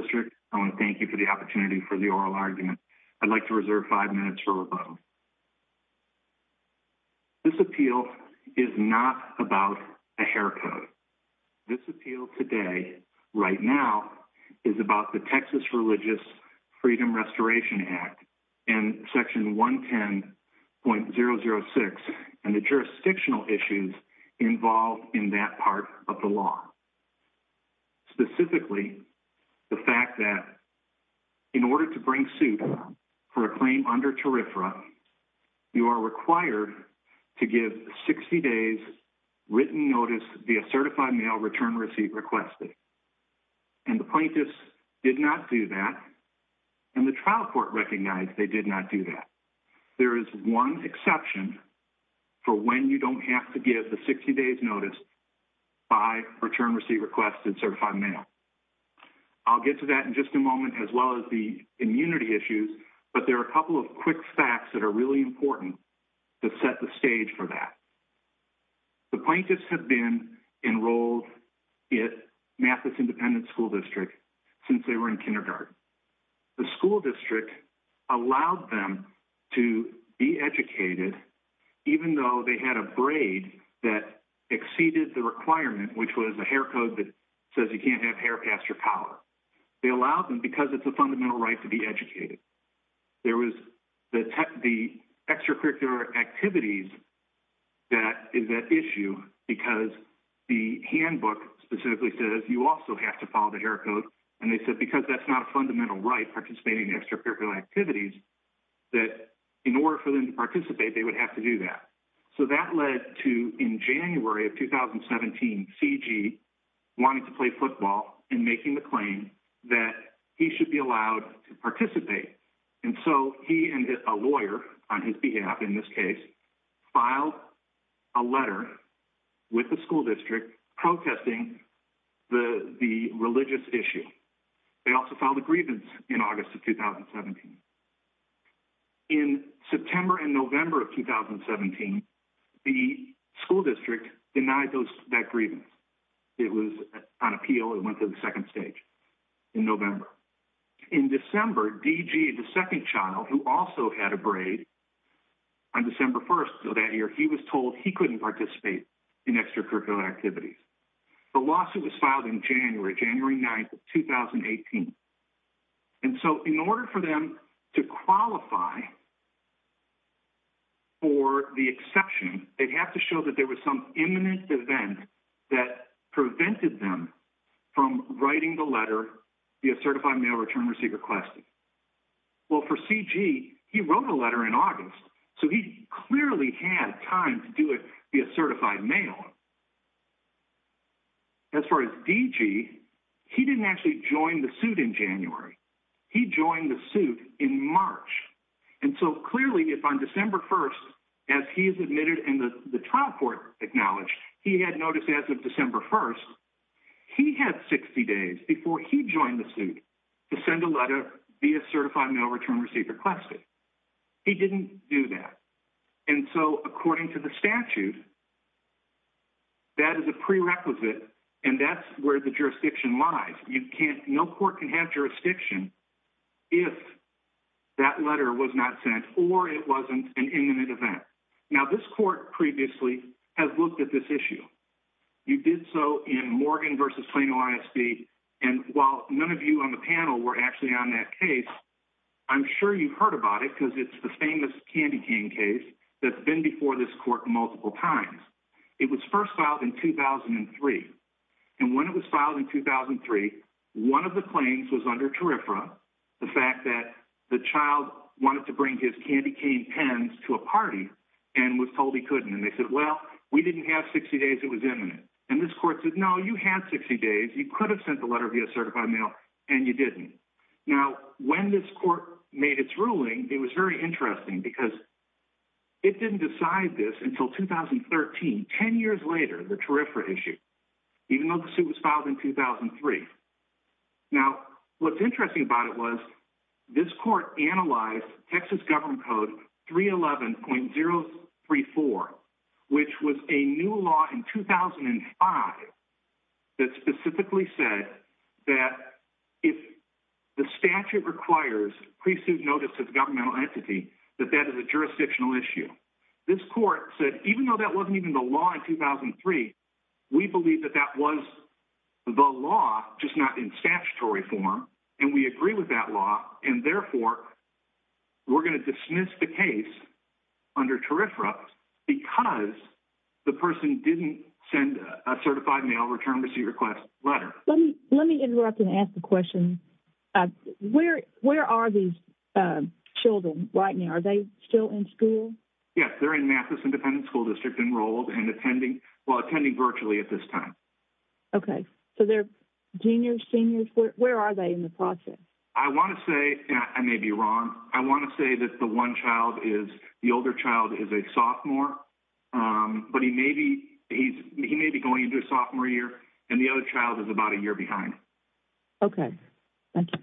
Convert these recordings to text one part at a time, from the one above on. District, I want to thank you for the opportunity for the oral argument. I'd like to reserve five minutes for rebuttal. This appeal is not about a hair code. This appeal today, right now, is about the Texas Religious Freedom Restoration Act and section 110.006 and the jurisdictional issues involved in that part of the law. Specifically, the fact that in order to bring suit for a claim under TERFRA, you are required to give 60 days written notice via certified mail by return receipt requested. And the plaintiffs did not do that, and the trial court recognized they did not do that. There is one exception for when you don't have to give the 60 days notice by return receipt requested certified mail. I'll get to that in just a moment, as well as the immunity issues, but there are a couple of quick facts that are really important to set the stage for that. The plaintiffs have been enrolled at Mathis Independent School District since they were in kindergarten. The school district allowed them to be educated, even though they had a braid that exceeded the requirement, which was a hair code that says you can't have hair past your collar. They allowed them because it's a fundamental right to be educated. There was the extracurricular activities that is an issue because the handbook specifically says you also have to follow the hair code, and they said because that's not a fundamental right, participating in extracurricular activities, that in order for them to participate, they would have to do that. So that led to, in January of 2017, C.G. wanting to play football and making the claim that he should be allowed to participate. And so he and a lawyer, on his behalf in this case, filed a letter with the school district protesting the religious issue. They also filed a grievance in August of 2017. In September and November of 2017, the school district denied that grievance. It was on appeal and went to the second stage in November. In December, D.G., the second child, who also had a braid, on December 1st of that year, he was told he couldn't participate in extracurricular activities. The lawsuit was filed in January, January 9th of 2018. And so in order for them to qualify for the exception, they'd have to show that there was some imminent event that prevented them from writing the letter via certified mail return receipt request. Well, for C.G., he wrote a letter in August, so he clearly had time to do it via certified mail. As far as D.G., he didn't actually join the suit in January. He joined the suit in March. And so clearly, if on December 1st, as he is admitted and the trial court acknowledged, he had notice as of December 1st, he had 60 days before he joined the suit to send a letter via certified mail return receipt request. He didn't do that. And so according to the statute, that is a prerequisite, and that's where the jurisdiction lies. No court can have jurisdiction if that letter was not sent or it wasn't an imminent event. Now, this court previously has looked at this issue. You did so in Morgan v. Plano ISD. And while none of you on the panel were actually on that case, I'm sure you've heard about it because it's the famous candy cane case that's been before this court multiple times. It was first filed in 2003. And when it was filed in 2003, one of the claims was under terrifra, the fact that the child wanted to bring his candy cane pens to a party and was told he couldn't. And they said, well, we didn't have 60 days. It was imminent. And this court said, no, you had 60 days. You could have sent the letter via certified mail, and you didn't. Now, when this court made its ruling, it was very interesting because it didn't decide this until 2013. Ten years later, the terrifra issue, even though the suit was filed in 2003. Now, what's interesting about it was this court analyzed Texas Government Code 311.034, which was a new law in 2005 that specifically said that if the statute requires pre-suit notice of governmental entity, that that is a jurisdictional issue. This court said, even though that wasn't even the law in 2003, we believe that that was the law, just not in statutory form, and we agree with that law. And therefore, we're going to dismiss the case under terrifra because the person didn't send a certified mail return receipt request letter. Let me interrupt and ask a question. Where are these children right now? Are they still in school? Yes, they're in Mathis Independent School District enrolled and attending, well, attending virtually at this time. Okay. So they're juniors, seniors? Where are they in the process? I want to say, and I may be wrong, I want to say that the one child is, the older child is a sophomore, but he may be going into his sophomore year, and the other child is about a year behind. Okay. Thank you.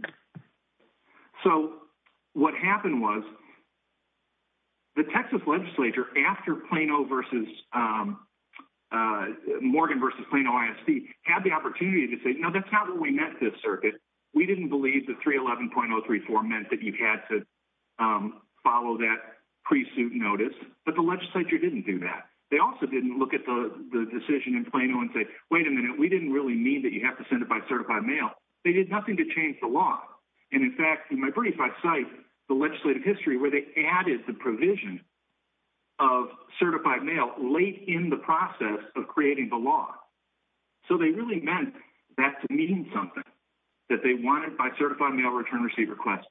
So what happened was, the Texas legislature, after Plano versus, Morgan versus Plano ISD, had the opportunity to say, no, that's not what we meant, this circuit. We didn't believe that 311.034 meant that you had to follow that pre-suit notice, but the legislature didn't do that. They also didn't look at the decision in Plano and say, wait a minute, we didn't really mean that you have to send it by certified mail. They did nothing to change the law. And in fact, in my brief, I cite the legislative history where they added the provision of certified mail late in the process of creating the law. So they really meant that to mean something, that they wanted by certified mail return receipt request.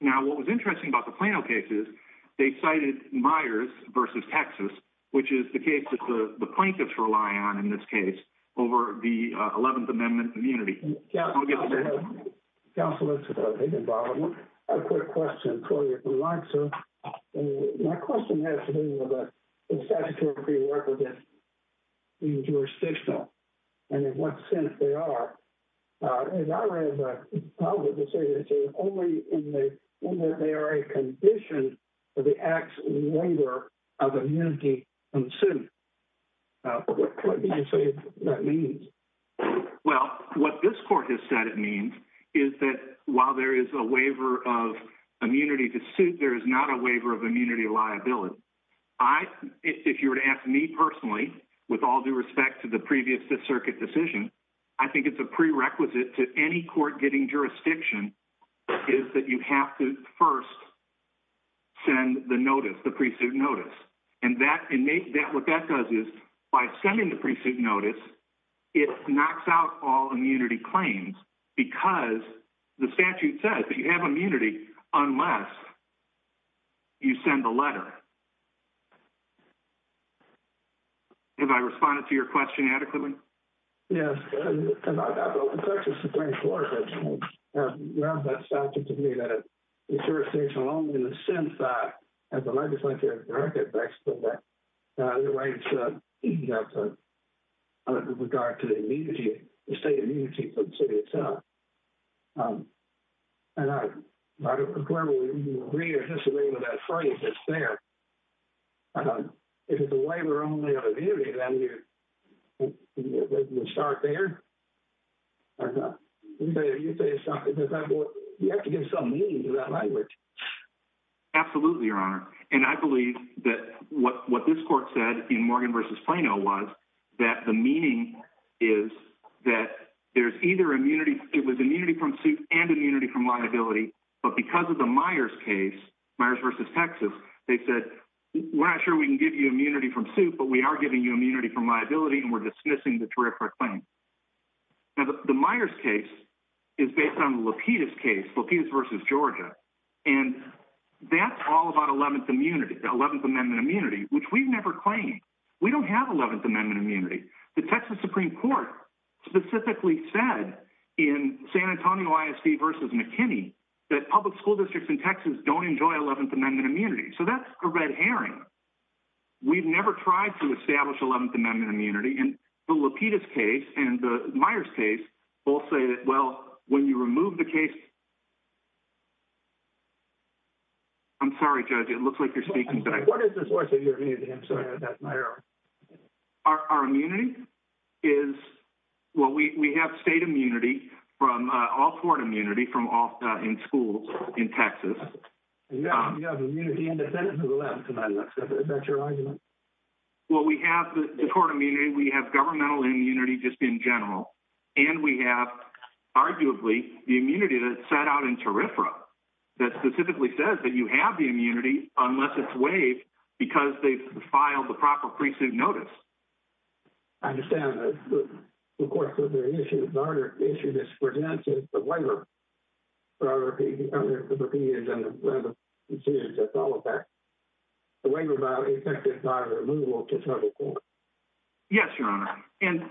Now, what was interesting about the Plano case is, they cited Myers versus Texas, which is the case that the plaintiffs rely on in this case, over the 11th Amendment immunity. Counselor, I have a quick question for you if you'd like, sir. My question has to do with the statutory prerequisite being jurisdictional, and in what sense they are. And I read the public decision saying only in that they are a condition for the act's waiver of immunity from suit. What do you say that means? Well, what this court has said it means is that while there is a waiver of immunity to suit, there is not a waiver of immunity liability. If you were to ask me personally, with all due respect to the previous Fifth Circuit decision, I think it's a prerequisite to any court getting jurisdiction is that you have to first send the notice, the pre-suit notice. And what that does is, by sending the pre-suit notice, it knocks out all immunity claims, because the statute says that you have immunity unless you send the letter. Have I responded to your question adequately? Yes. The Texas Supreme Court has grabbed that statute to mean that it's jurisdictional only in the sense that, as the legislature has directed, that's the way it should be with regard to the immunity, the state immunity for the city itself. And I don't know whether you agree or disagree with that phrase that's there. If it's a waiver only of immunity, then you start there? You have to give some meaning to that language. Absolutely, Your Honor. And I believe that what this court said in Morgan v. Plano was that the meaning is that there's either immunity – it was immunity from suit and immunity from liability, but because of the Myers case, Myers v. Texas, they said, we're not sure we can give you immunity from suit, but we are giving you immunity from liability, and we're dismissing the terrific claim. Now, the Myers case is based on the Lapidus case, Lapidus v. Georgia, and that's all about 11th Amendment immunity, which we've never claimed. We don't have 11th Amendment immunity. The Texas Supreme Court specifically said in San Antonio ISD v. McKinney that public school districts in Texas don't enjoy 11th Amendment immunity. So that's a red herring. We've never tried to establish 11th Amendment immunity, and the Lapidus case and the Myers case both say that, well, when you remove the case – I'm sorry, Judge, it looks like you're speaking, but I – What is the source of your immunity? I'm sorry, that's my error. Our immunity is – well, we have state immunity, all-court immunity in schools in Texas. You have immunity independent of the left, by the looks of it. Is that your argument? Well, we have the court immunity, we have governmental immunity just in general, and we have, arguably, the immunity that's set out in TERFRA that specifically says that you have the immunity unless it's waived because they've filed the proper pre-suit notice. I understand. Of course, the issue that's presented is the waiver, rather than the decisions that follow that. The waiver is effective by removal to federal court. Yes, Your Honor, and –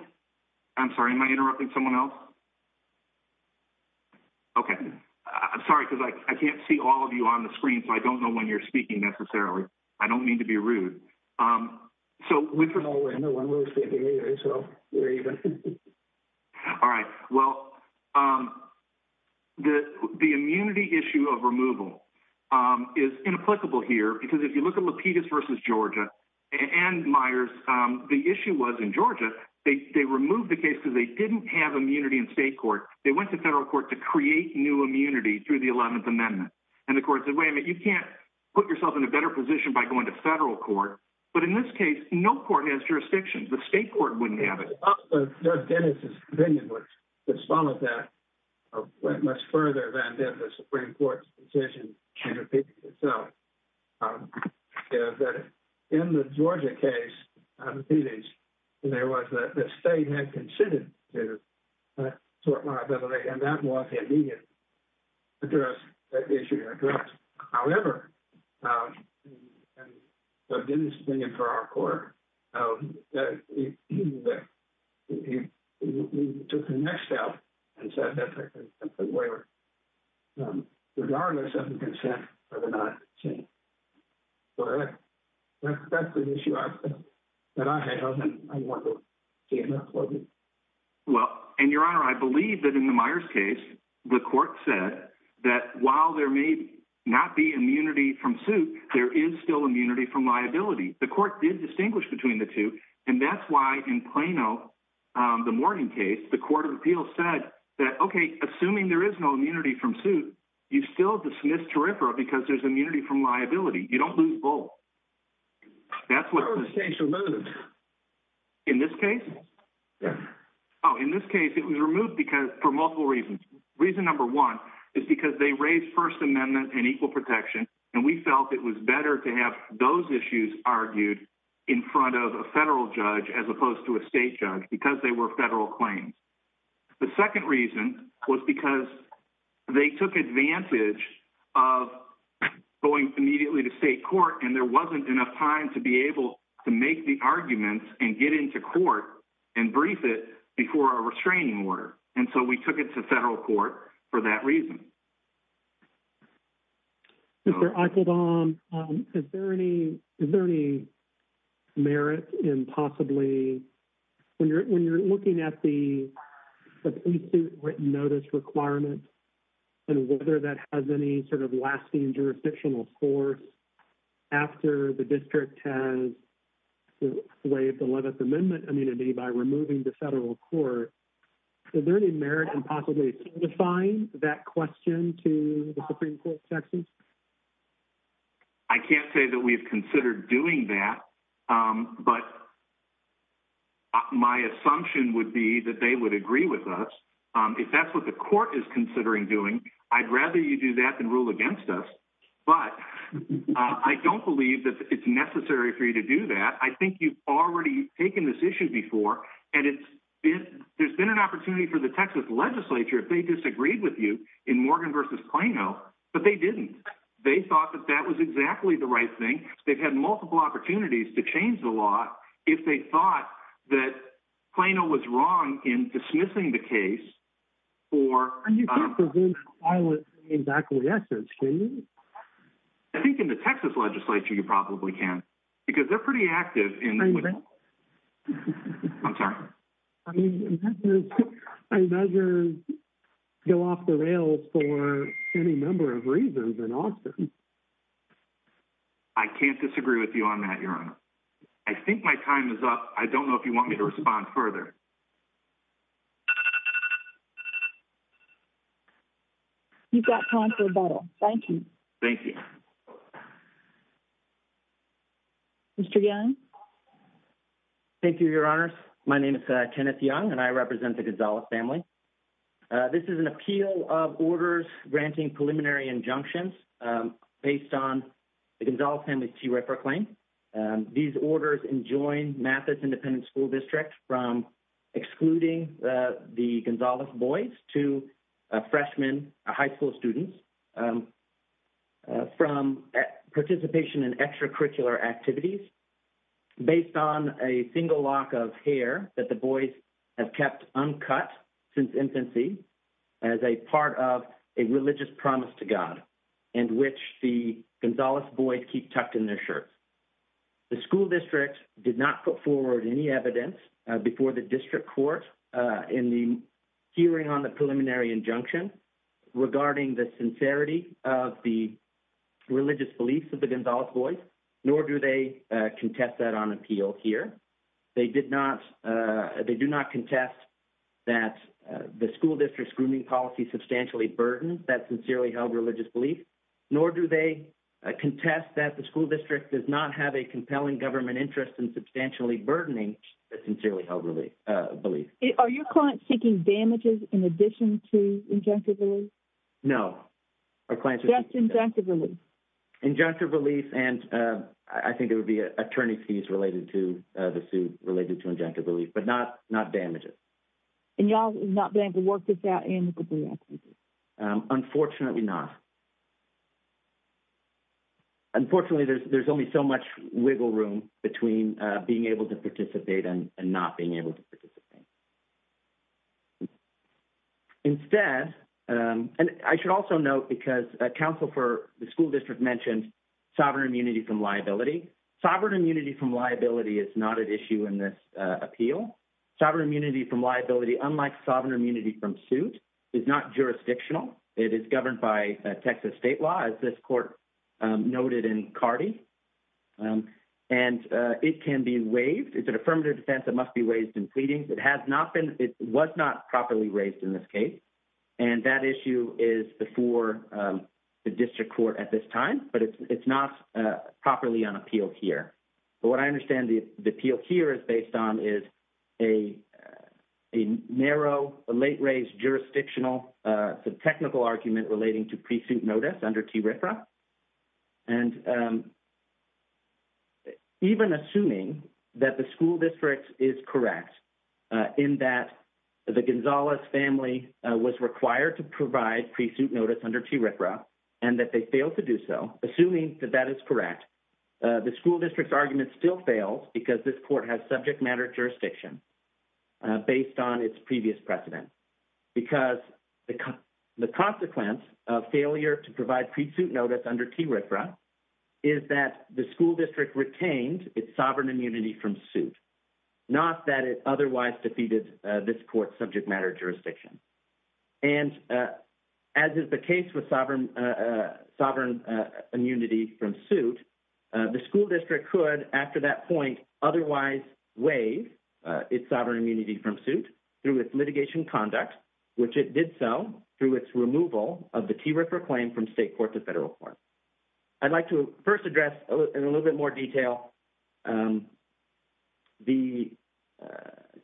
I'm sorry, am I interrupting someone else? Okay. I'm sorry, because I can't see all of you on the screen, so I don't know when you're speaking, necessarily. I don't mean to be rude. No, we're in the one-word state area, so we're even. All right. Well, the immunity issue of removal is inapplicable here, because if you look at Lapidus v. Georgia and Myers, the issue was in Georgia, they removed the case because they didn't have immunity in state court. They went to federal court to create new immunity through the 11th Amendment, and the court said, wait a minute, you can't put yourself in a better position by going to federal court. But in this case, no court has jurisdiction. The state court wouldn't have it. Well, Judge Dennis' opinion would follow that much further than the Supreme Court's decision in Lapidus itself. In the Georgia case, Lapidus, there was – the state had consented to sort liability, and that was an immediate issue to address. However, Judge Dennis' opinion for our court, he took the next step and said that there could be a waiver regardless of the consent or the not consent. So that's the issue that I had, and I want to see it not closed. Well, and, Your Honor, I believe that in the Myers case, the court said that while there may not be immunity from suit, there is still immunity from liability. The court did distinguish between the two, and that's why in Plano, the Morgan case, the court of appeals said that, okay, assuming there is no immunity from suit, you still have to dismiss Tariffra because there's immunity from liability. You don't lose both. That's what the state said. That was the case removed. In this case? Yes. Oh, in this case, it was removed for multiple reasons. Reason number one is because they raised First Amendment and equal protection, and we felt it was better to have those issues argued in front of a federal judge as opposed to a state judge because they were federal claims. The second reason was because they took advantage of going immediately to state court and there wasn't enough time to be able to make the arguments and get into court and brief it before a restraining order, and so we took it to federal court for that reason. Mr. Eicheldom, is there any merit in possibly, when you're looking at the suit written notice requirement and whether that has any sort of lasting jurisdictional force after the district has waived the 11th Amendment immunity by removing the federal court, is there any merit in possibly signifying that question to the Supreme Court of Texas? I can't say that we've considered doing that, but my assumption would be that they would agree with us. If that's what the court is considering doing, I'd rather you do that than rule against us, but I don't believe that it's necessary for you to do that. I think you've already taken this issue before, and there's been an opportunity for the Texas legislature, if they disagreed with you in Morgan v. Plano, but they didn't. They thought that that was exactly the right thing. They've had multiple opportunities to change the law if they thought that Plano was wrong in dismissing the case. And you can't prevent violence from being back in the essence, can you? I think in the Texas legislature you probably can because they're pretty active in— I'm sorry? I mean, measures go off the rails for any number of reasons in Austin. I can't disagree with you on that, Your Honor. I think my time is up. I don't know if you want me to respond further. You've got time for rebuttal. Thank you. Thank you. Mr. Young? Thank you, Your Honors. My name is Kenneth Young, and I represent the Gonzalez family. This is an appeal of orders granting preliminary injunctions based on the Gonzalez family's TRIPRA claim. These orders enjoin Mathis Independent School District from excluding the Gonzalez boys to freshmen, high school students, from participation in extracurricular activities based on a single lock of hair that the boys have kept uncut since infancy as a part of a religious promise to God in which the Gonzalez boys keep tucked in their shirts. The school district did not put forward any evidence before the district court in the hearing on the preliminary injunction regarding the sincerity of the religious beliefs of the Gonzalez boys, nor do they contest that on appeal here. They do not contest that the school district's grooming policy substantially burdens that sincerely held religious belief, nor do they contest that the school district does not have a compelling government interest in substantially burdening the sincerely held belief. Are your clients seeking damages in addition to injunctive relief? No. Just injunctive relief. Injunctive relief, and I think it would be attorney's fees related to the suit related to injunctive relief, but not damages. And y'all is not going to work this out amicably? Unfortunately not. Unfortunately, there's only so much wiggle room between being able to participate and not being able to participate. Instead, and I should also note because counsel for the school district mentioned sovereign immunity from liability. Sovereign immunity from liability is not an issue in this appeal. Sovereign immunity from liability, unlike sovereign immunity from suit, is not jurisdictional. It is governed by Texas state law, as this court noted in Cardi. And it can be waived. It's an affirmative defense. It must be waived in pleadings. It was not properly raised in this case, and that issue is before the district court at this time, but it's not properly on appeal here. But what I understand the appeal here is based on is a narrow, a late-raised jurisdictional technical argument relating to pre-suit notice under TRFRA. And even assuming that the school district is correct in that the Gonzalez family was required to provide pre-suit notice under TRFRA and that they failed to do so, assuming that that is correct, the school district's argument still fails because this court has previous precedent. Because the consequence of failure to provide pre-suit notice under TRFRA is that the school district retained its sovereign immunity from suit, not that it otherwise defeated this court's subject matter jurisdiction. And as is the case with sovereign immunity from suit, the school district could, after that point, otherwise waive its sovereign immunity from suit through its litigation conduct, which it did so through its removal of the TRFRA claim from state court to federal court. I'd like to first address in a little bit more detail the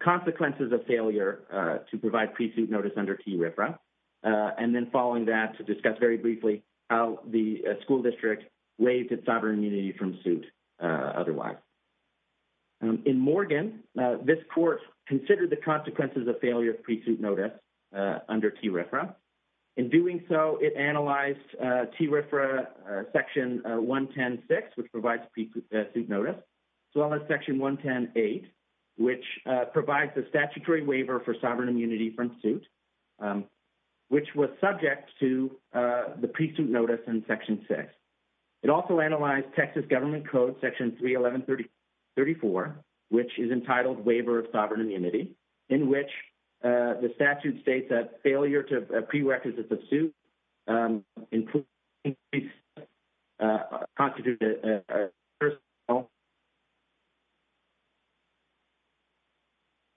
consequences of failure to provide pre-suit notice under TRFRA, and then following that to discuss very briefly how the school district waived its sovereign immunity from suit otherwise. In Morgan, this court considered the consequences of failure of pre-suit notice under TRFRA. In doing so, it analyzed TRFRA Section 110.6, which provides pre-suit notice, as well as Section 110.8, which provides a statutory waiver for sovereign immunity from suit, which was subject to the pre-suit notice in Section 6. It also analyzed Texas Government Code Section 311.34, which is entitled Waiver of Sovereign Immunity, in which the statute states that failure to pre-requisites of suit including pre-suit notice constitutes a personal violation.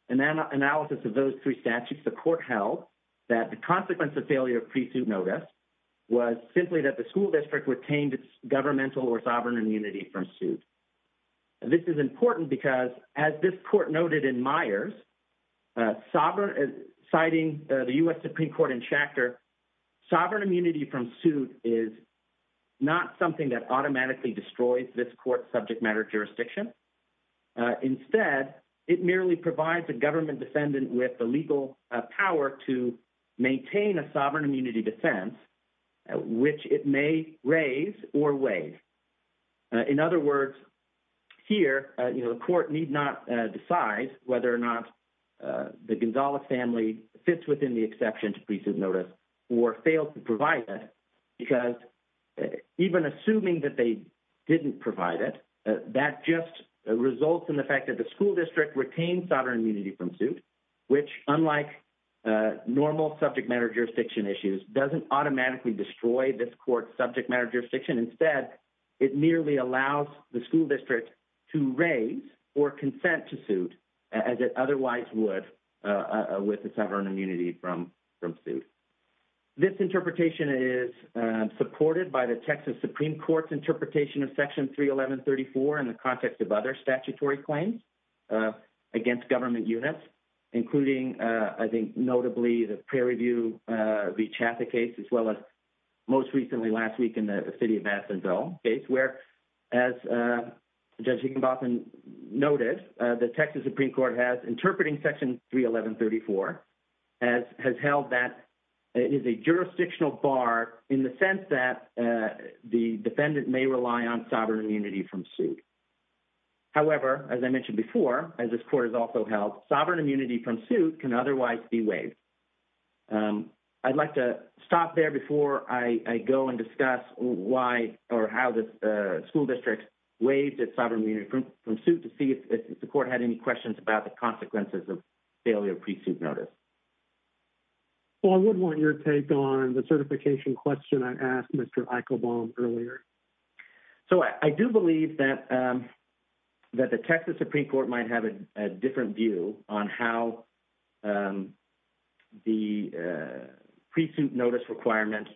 In analysis of those three statutes, the court held that the consequence of failure of pre-suit notice was simply that the school district retained its governmental or sovereign immunity from suit. This is important because, as this court noted in Myers, citing the U.S. Supreme Court in Schachter, sovereign immunity from suit is not something that automatically destroys this court's subject matter jurisdiction. Instead, it merely provides a government defendant with the legal power to maintain a pre-suit notice that it may raise or waive. In other words, here, the court need not decide whether or not the Gonzales family fits within the exception to pre-suit notice or fails to provide that, because even assuming that they didn't provide it, that just results in the fact that the school district retained sovereign immunity from suit, which unlike normal subject matter jurisdiction issues, doesn't automatically destroy this court's subject matter jurisdiction. Instead, it merely allows the school district to raise or consent to suit as it otherwise would with the sovereign immunity from suit. This interpretation is supported by the Texas Supreme Court's interpretation of Section 31134 in the context of other statutory claims against government units, including, I think, the case as well as most recently last week in the city of Nassau case, where as Judge Higginbotham noted, the Texas Supreme Court has interpreting Section 31134, as has held that it is a jurisdictional bar in the sense that the defendant may rely on sovereign immunity from suit. However, as I mentioned before, as this court has also held, sovereign immunity from suit can otherwise be waived. I'd like to stop there before I go and discuss why or how the school district waived its sovereign immunity from suit to see if the court had any questions about the consequences of failure of pre-suit notice. I would want your take on the certification question I asked Mr. Eichelbaum earlier. So I do believe that the Texas Supreme Court might have a different view on how the pre-suit notice requirement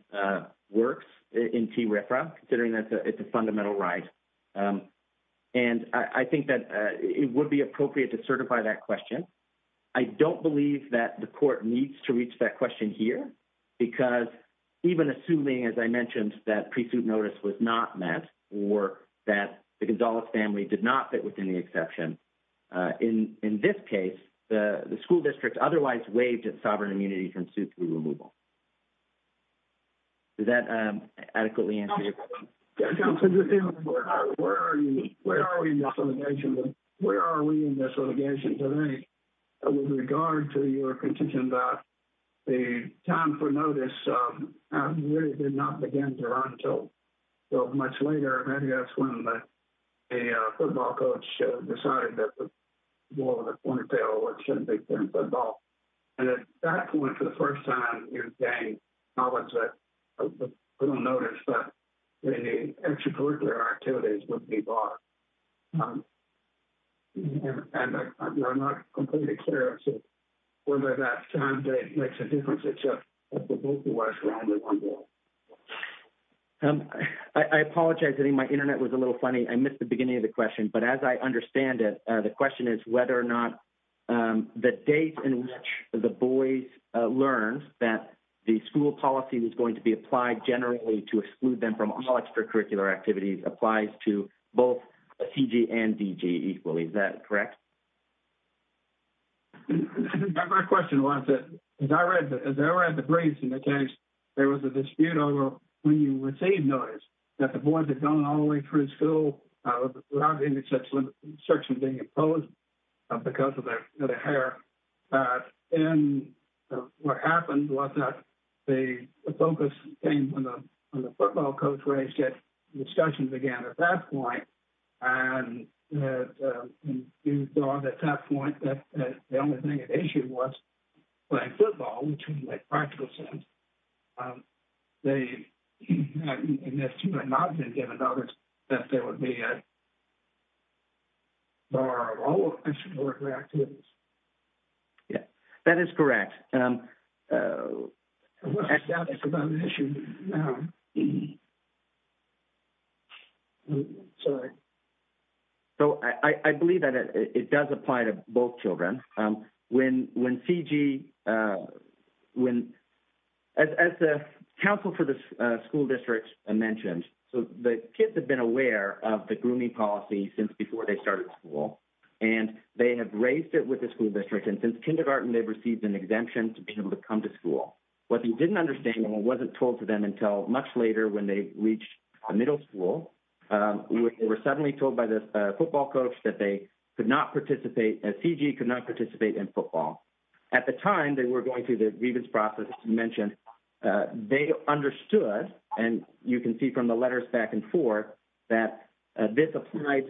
works in TRIFRA, considering that it's a fundamental right. And I think that it would be appropriate to certify that question. I don't believe that the court needs to reach that question here because even assuming, as I mentioned, that pre-suit notice was not met or that the Gonzalez family did not fit within the exception, in this case, the school district otherwise waived its sovereign immunity from suit through removal. Does that adequately answer your question? Where are we in this litigation today with regard to your contention about the time for notice? We did not begin to run until much later. Maybe that's when the football coach decided that the ball was on the corner tail or it shouldn't be playing football. And at that point, for the first time, you're saying not that we don't notice, but maybe extracurricular activities would be barred. And I'm not completely clear as to whether that makes a difference, except that both of us were only one ball. I apologize. I think my internet was a little funny. I missed the beginning of the question, but as I understand it, the question is whether or not the date in which the boys learned that the school policy was going to be applied generally to exclude them from all extracurricular activities applies to both CG and DG equally. Is that correct? My question was, as I read the briefs and the text, there was a dispute over when you received notice that the boys had gone all the way through school without any such restriction being imposed because of their hair. And what happened was that the focus came from the football coach where they started discussions again at that point. And you thought at that point that the only thing at issue was playing football, which in the practical sense, unless you had not been given notice, that there would be a bar of all extracurricular activities. That is correct. I believe that it does apply to both children. As the council for the school district mentioned, the kids have been aware of the grooming policy since before they started school, and they have raised it with the school district. And since kindergarten, they've received an exemption to be able to come to school. What they didn't understand and what wasn't told to them until much later when they reached the middle school, they were suddenly told by the football coach that they could not participate as CG could not participate in football. At the time they were going through the grievance process mentioned, they understood. And you can see from the letters back and forth that this applies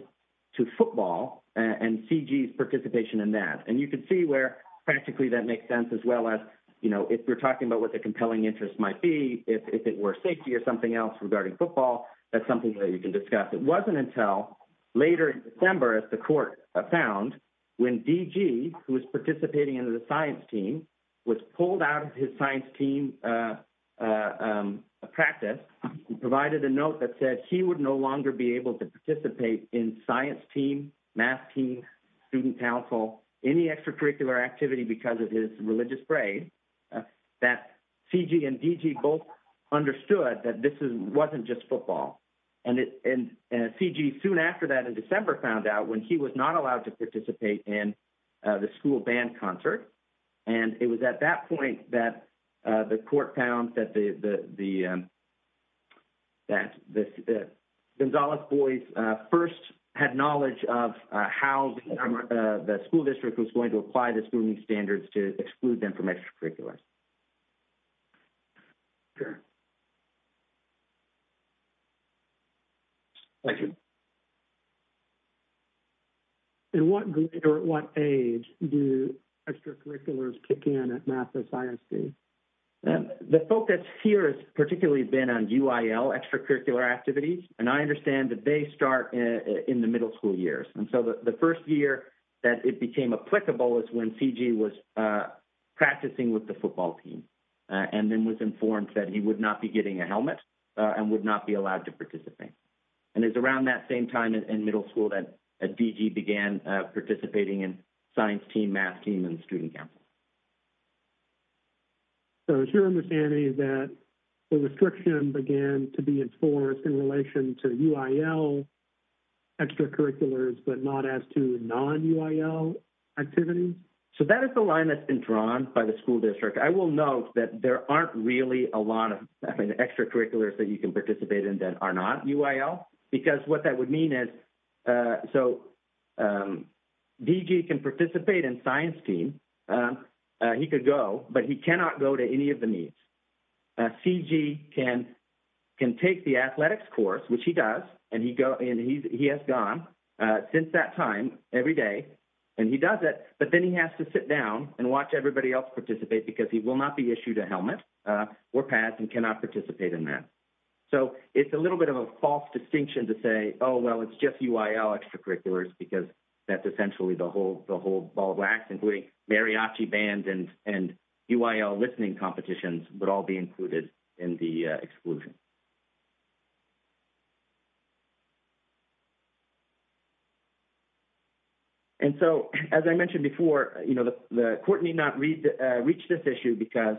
to football and CG's participation in that. And you can see where practically that makes sense as well as, you know, if we're talking about what the compelling interest might be, if it were safety or something else regarding football, that's something that you can discuss. It wasn't until later in December, as the court found when DG who was participating in the science team was pulled out of his science team practice, provided a note that said he would no longer be able to participate in science team, math team, student council, any extracurricular activity because of his religious grade, that CG and DG both understood that this wasn't just football. And CG soon after that in December found out when he was not allowed to participate in the school band concert. And it was at that point that the court found that the Gonzales boys first had knowledge of how the school district was going to apply the student standards to exclude them from extracurriculars. Sure. Thank you. At what age do extracurriculars kick in at math and science team? The focus here has particularly been on UIL extracurricular activities. And I understand that they start in the middle school years. And so the first year that it became applicable is when CG was practicing with the football team and then was informed that he would not be getting a helmet and would not be allowed to participate. And it's around that same time in middle school that DG began participating in science team, math team, and student council. So it's your understanding that the restriction began to be enforced in relation to UIL extracurriculars but not as to non-UIL activities? So that is the line that's been drawn by the school district. I will note that there aren't really a lot of extracurriculars that you can participate in that are not UIL because what that would mean is so DG can participate in science team. He could go, but he cannot go to any of the meets. CG can take the athletics course, which he does, and he has gone since that time every day. And he does it, but then he has to sit down and watch everybody else participate because he will not be issued a helmet or pads and cannot participate in that. So it's a little bit of a false distinction to say, oh, well, it's just UIL extracurriculars because that's essentially the whole ball of UIL listening competitions would all be included in the exclusion. And so as I mentioned before, you know, the court need not reach this issue because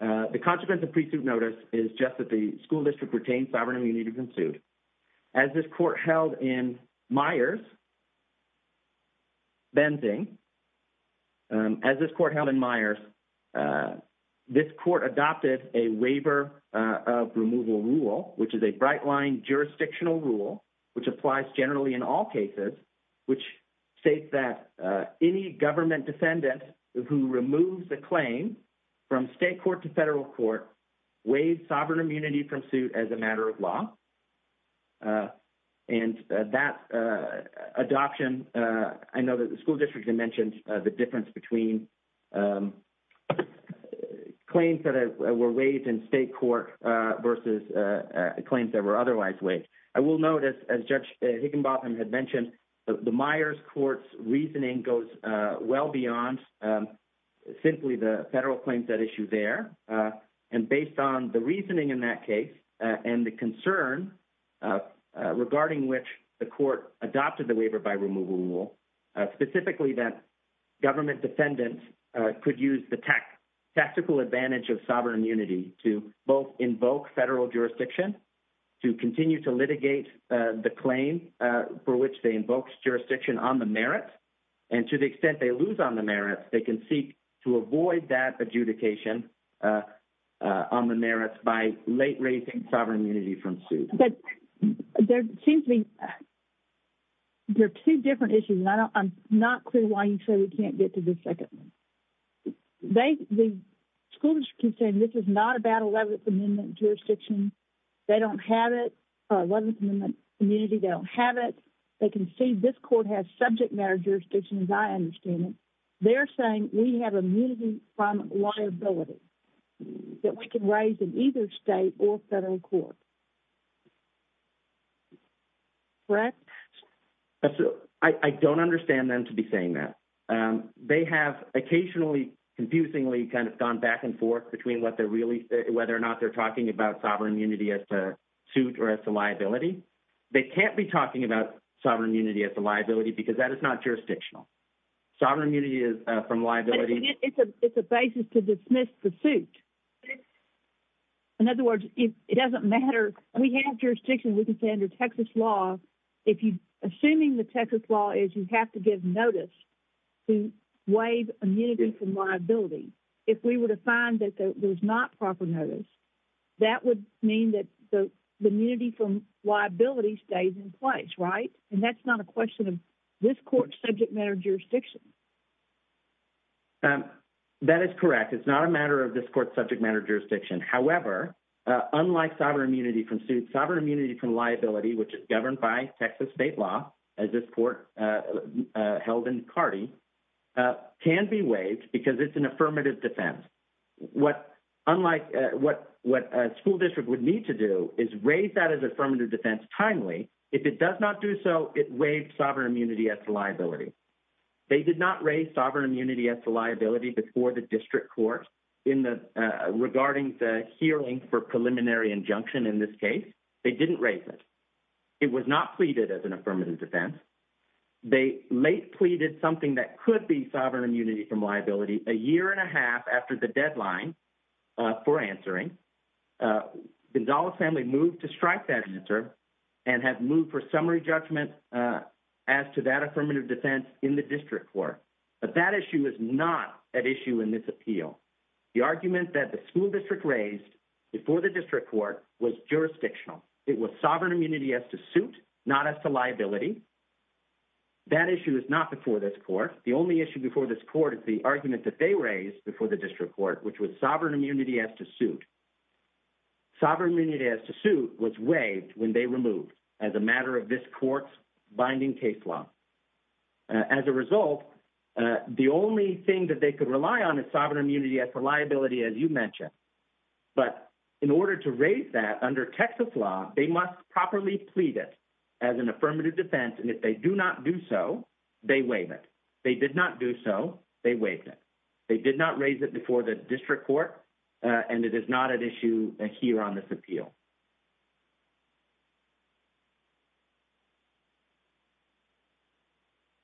the consequence of pre-suit notice is just that the school district retained sovereign immunity to this court held in Meyers. Benzing as this court held in Meyers this court adopted a waiver of removal rule, which is a bright line jurisdictional rule, which applies generally in all cases, which states that any government defendant who removes the claim from state court to federal court waived sovereign immunity from suit as a matter of law. And that adoption I know that the school district had mentioned the difference between claims that were waived in state court versus claims that were otherwise waived. I will notice as judge Higginbotham had mentioned, the Meyers court's reasoning goes well beyond simply the federal claims that issue there. And based on the reasoning in that case, and the concern regarding which the court adopted the waiver by removal rule, specifically that government defendants could use the tech tactical advantage of sovereign immunity to both invoke federal jurisdiction to continue to litigate the claim for which they invoked jurisdiction on the merit. And to the extent they lose on the merits, they can seek to avoid that adjudication on the merits by late raising sovereign immunity from suit. There seems to be, there are two different issues. I'm not clear why you say we can't get to the second one. The school district keeps saying this is not about 11th amendment jurisdiction. They don't have it, or 11th amendment immunity, they don't have it. They can see this court has subject matter jurisdiction, as I understand it. They're saying we have immunity from liability that we can raise in either state or federal court. Correct. I don't understand them to be saying that they have occasionally confusingly kind of gone back and forth between what they're really, whether or not they're talking about sovereign immunity as a suit or as a liability, they can't be talking about sovereign immunity as a liability because that is not jurisdictional. Sovereign immunity is from liability. It's a basis to dismiss the suit. In other words, it doesn't matter. We have jurisdiction. We can say under Texas law, assuming the Texas law is you have to give notice to waive immunity from liability. If we were to find that there was not proper notice, that would mean that the immunity from liability stays in place, right? And that's not a question of this court subject matter jurisdiction. That is correct. It's not a matter of this court subject matter jurisdiction. However, unlike sovereign immunity from suit sovereign immunity from liability, which is governed by Texas state law, as this court held in Cardi can be waived because it's an affirmative defense. What unlike what, what a school district would need to do is raise that as affirmative defense. Timely. If it does not do so, it waived sovereign immunity as liability. They did not raise sovereign immunity as the liability before the district court in the regarding the hearing for preliminary injunction. In this case, they didn't raise it. It was not pleaded as an affirmative defense. They late pleaded something that could be sovereign immunity from liability a year and a half after the deadline for answering Gonzalez family moved to strike that answer and have moved for summary judgment as to that affirmative defense in the district court. But that issue is not an issue in this appeal. The argument that the school district raised before the district court was jurisdictional. It was sovereign immunity as to suit, not as to liability. That issue is not before this court. The only issue before this court is the argument that they raised before the district court, which was sovereign immunity as to suit sovereign immunity as to suit was waived when they removed as a matter of this court's binding case law. As a result, the only thing that they could rely on is sovereign immunity as for liability, as you mentioned, but in order to raise that under Texas law, they must properly plead it as an affirmative defense. And if they do not do so, they waive it. They did not do so. They waived it. They did not raise it before the district court. And it is not an issue here on this appeal.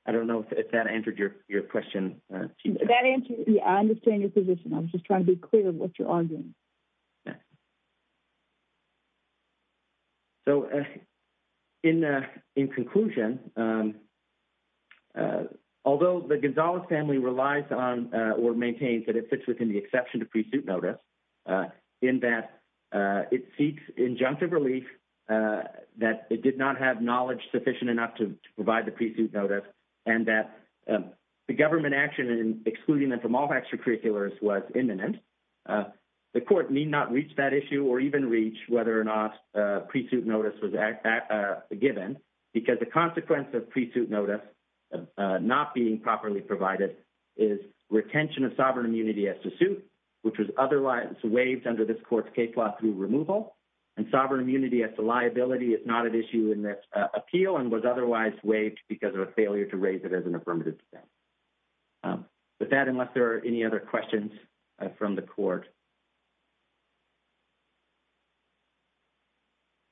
I don't know if that answered your question. I understand your position. I was just trying to be clear of what you're arguing. So in, in conclusion, although the Gonzalez family relies on, or maintains that it fits within the exception to pre-suit notice in that it seeks injunctive relief, that it did not have knowledge sufficient enough to provide the pre-suit notice. And that the government action in excluding them from all extracurriculars was imminent. The court need not reach that issue or even reach whether or not pre-suit notice was given because the consequence of pre-suit notice not being properly provided is retention of sovereign immunity as to suit, which was otherwise waived under this court's case law through removal and sovereign immunity as to liability. It's not an issue in this appeal and was otherwise waived because of a failure to raise it as an affirmative. But that, unless there are any other questions from the court.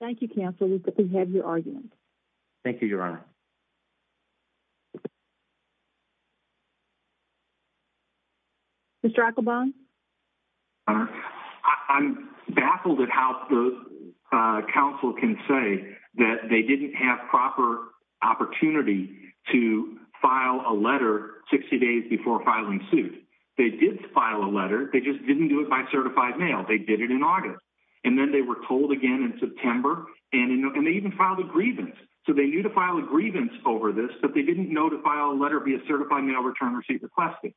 Thank you counsel. We have your argument. Thank you, your honor. Mr. Dr. I'm baffled at how the council can say that they didn't have proper opportunity to file a letter 60 days before filing suit. They did file a letter. They just didn't do it by certified mail. They did it in August. And then they were told again in September and, and they even filed a grievance. So they knew to file a grievance over this, but they didn't know to file a letter via certified mail, return receipt requested.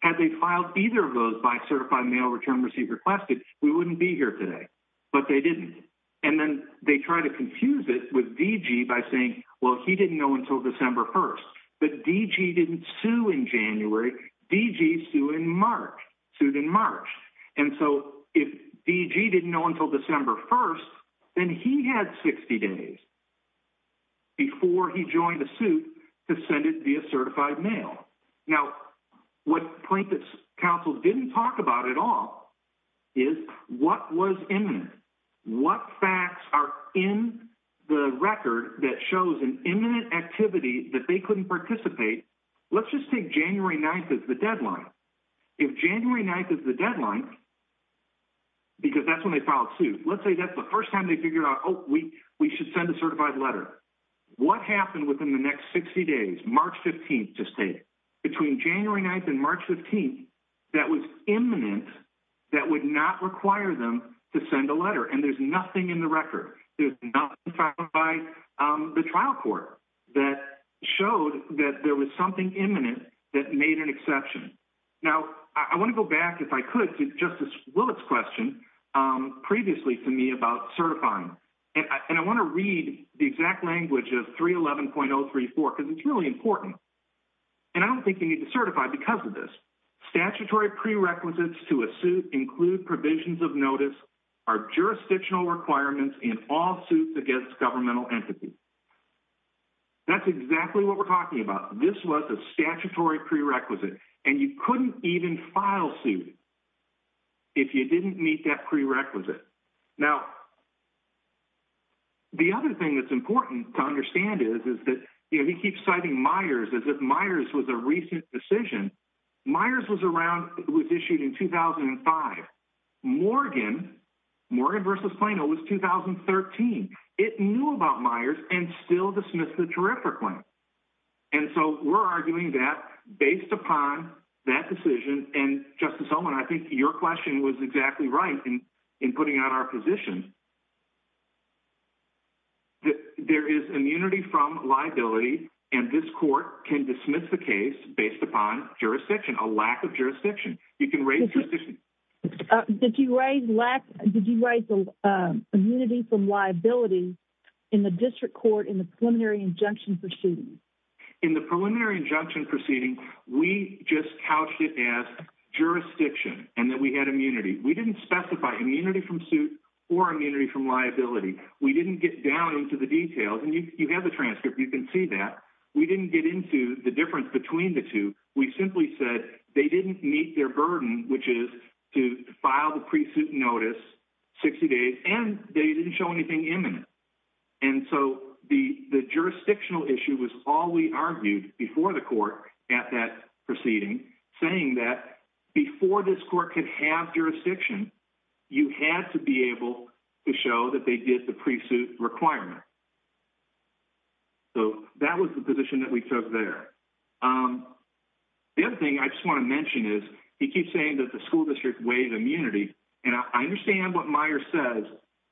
Had they filed either of those by certified mail, return receipt requested, we wouldn't be here today, but they didn't. And then they try to confuse it with DG by saying, well, he didn't know until December 1st, but DG didn't sue in January DG sue in March, sued in March. And so if DG didn't know until December 1st, then he had 60 days. Before he joined the suit to send it via certified mail. Now, what plaintiff's counsel didn't talk about at all is what was imminent, what facts are in the record that shows an imminent activity that they couldn't participate. Let's just take January 9th as the deadline. If January 9th is the deadline. Because that's when they filed suit. Let's say that's the first time they figured out, Oh, we, we should send a certified letter. What happened within the next 60 days, March 15th to stay between January 9th and March 15th. That was imminent. That would not require them to send a letter. And there's nothing in the record. There's nothing by the trial court that showed that there was something imminent that made an exception. Now I want to go back. If I could just as well, it's question. Previously to me about certifying. And I want to read the exact language of three 11.034. Cause it's really important. And I don't think you need to certify because of this statutory prerequisites to a suit include provisions of notice. Our jurisdictional requirements in all suits against governmental entities. That's exactly what we're talking about. This was a statutory prerequisite and you couldn't even file suit. If you didn't meet that prerequisite now, The other thing that's important to understand is, is that, you know, he keeps citing Myers as if Myers was a recent decision. Myers was around. It was issued in 2005. Morgan. Morgan versus Plano was 2013. It knew about Myers and still dismissed the terrific one. And so we're arguing that based upon that decision and justice. Someone, I think your question was exactly right. And in putting out our position. There is immunity from liability. And this court can dismiss the case based upon jurisdiction, a lack of jurisdiction. You can raise. Did you raise lack? Did you write the. Immunity from liability in the district court in the preliminary injunction proceedings. In the preliminary injunction proceeding, we just couched it as jurisdiction and that we had immunity. We didn't specify immunity from suit or immunity from liability. We didn't get down into the details and you have the transcript. You can see that we didn't get into the difference between the two. We simply said they didn't meet their burden, which is to file the pre-suit notice. 60 days and they didn't show anything imminent. And so the jurisdictional issue was all we argued before the court at that proceeding saying that before this court could have jurisdiction, you had to be able to show that they did the pre-suit requirement. So that was the position that we took there. The other thing I just want to mention is he keeps saying that the school district wave immunity. And I understand what Meyer says,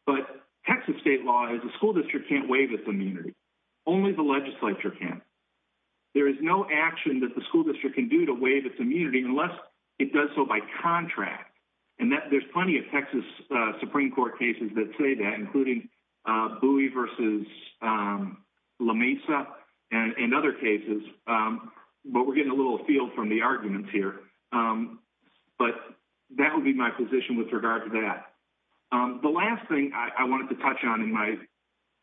but Texas state law is a school district can't wave its immunity. Only the legislature can. There is no action that the school district can do to waive its immunity unless it does so by contract. And that there's plenty of Texas Supreme court cases that say that including a buoy versus LaMesa and other cases. But we're getting a little field from the arguments here. But that would be my position with regard to that. The last thing I wanted to touch on in my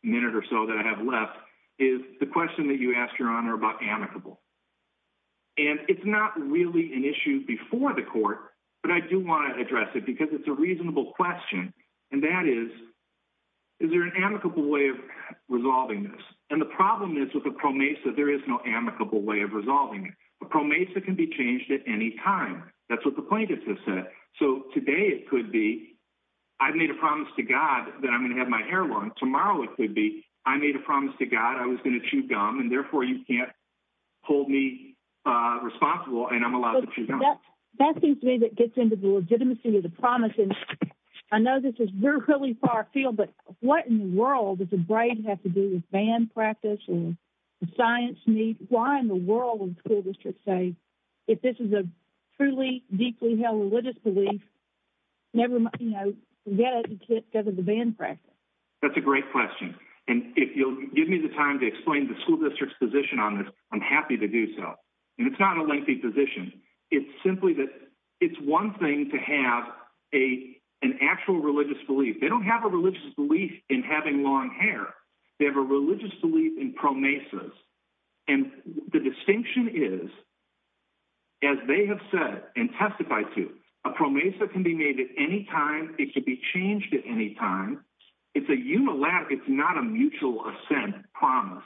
minute or so that I have left is the question that you asked your honor about amicable. And it's not really an issue before the court, but I do want to address it because it's a reasonable question. And that is, is there an amicable way of resolving this? And the problem is with a pro Mesa, there is no amicable way of resolving it. A pro Mesa can be changed at any time. That's what the plaintiffs have said. So today it could be, I've made a promise to God that I'm going to have my hair long tomorrow. It could be, I made a promise to God. I'm allowed to chew gum and therefore you can't hold me responsible. And I'm allowed to chew gum. That seems to me that gets into the legitimacy of the promise. And I know this is really far field, but what in the world does the brain have to do with band practice and science? Why in the world would the school district say, if this is a truly deeply held religious belief, never, you know, forget it because of the band practice. That's a great question. And if you'll give me the time to explain the school district's position on this, I'm happy to do so. And it's not a lengthy position. It's simply that it's one thing to have a, an actual religious belief. They don't have a religious belief in having long hair. They have a religious belief in pro Mesa. And the distinction is as they have said, and testified to a pro Mesa can be made at any time. It could be changed at any time. It's a human lab. It's not a mutual ascent promise.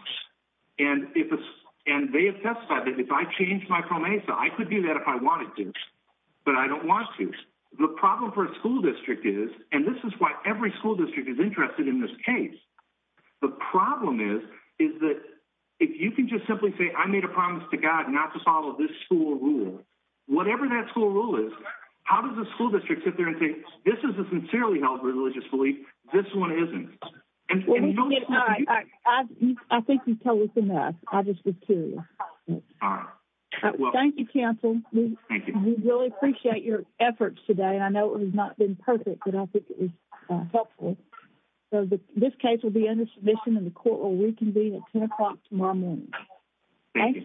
And if, and they have testified that if I changed my pro Mesa, I could do that if I wanted to, but I don't want to. The problem for a school district is, and this is why every school district is interested in this case. The problem is, is that if you can just simply say, I made a promise to God not to follow this school rule, whatever that school rule is, how does the school district sit there and say, this is a sincerely held religious belief. This one isn't. I think you've told us enough. I just was curious. Thank you counsel. We really appreciate your efforts today. And I know it has not been perfect, but I think it was helpful. So this case will be under submission in the court, where we can be at 10 o'clock tomorrow morning. Thank you.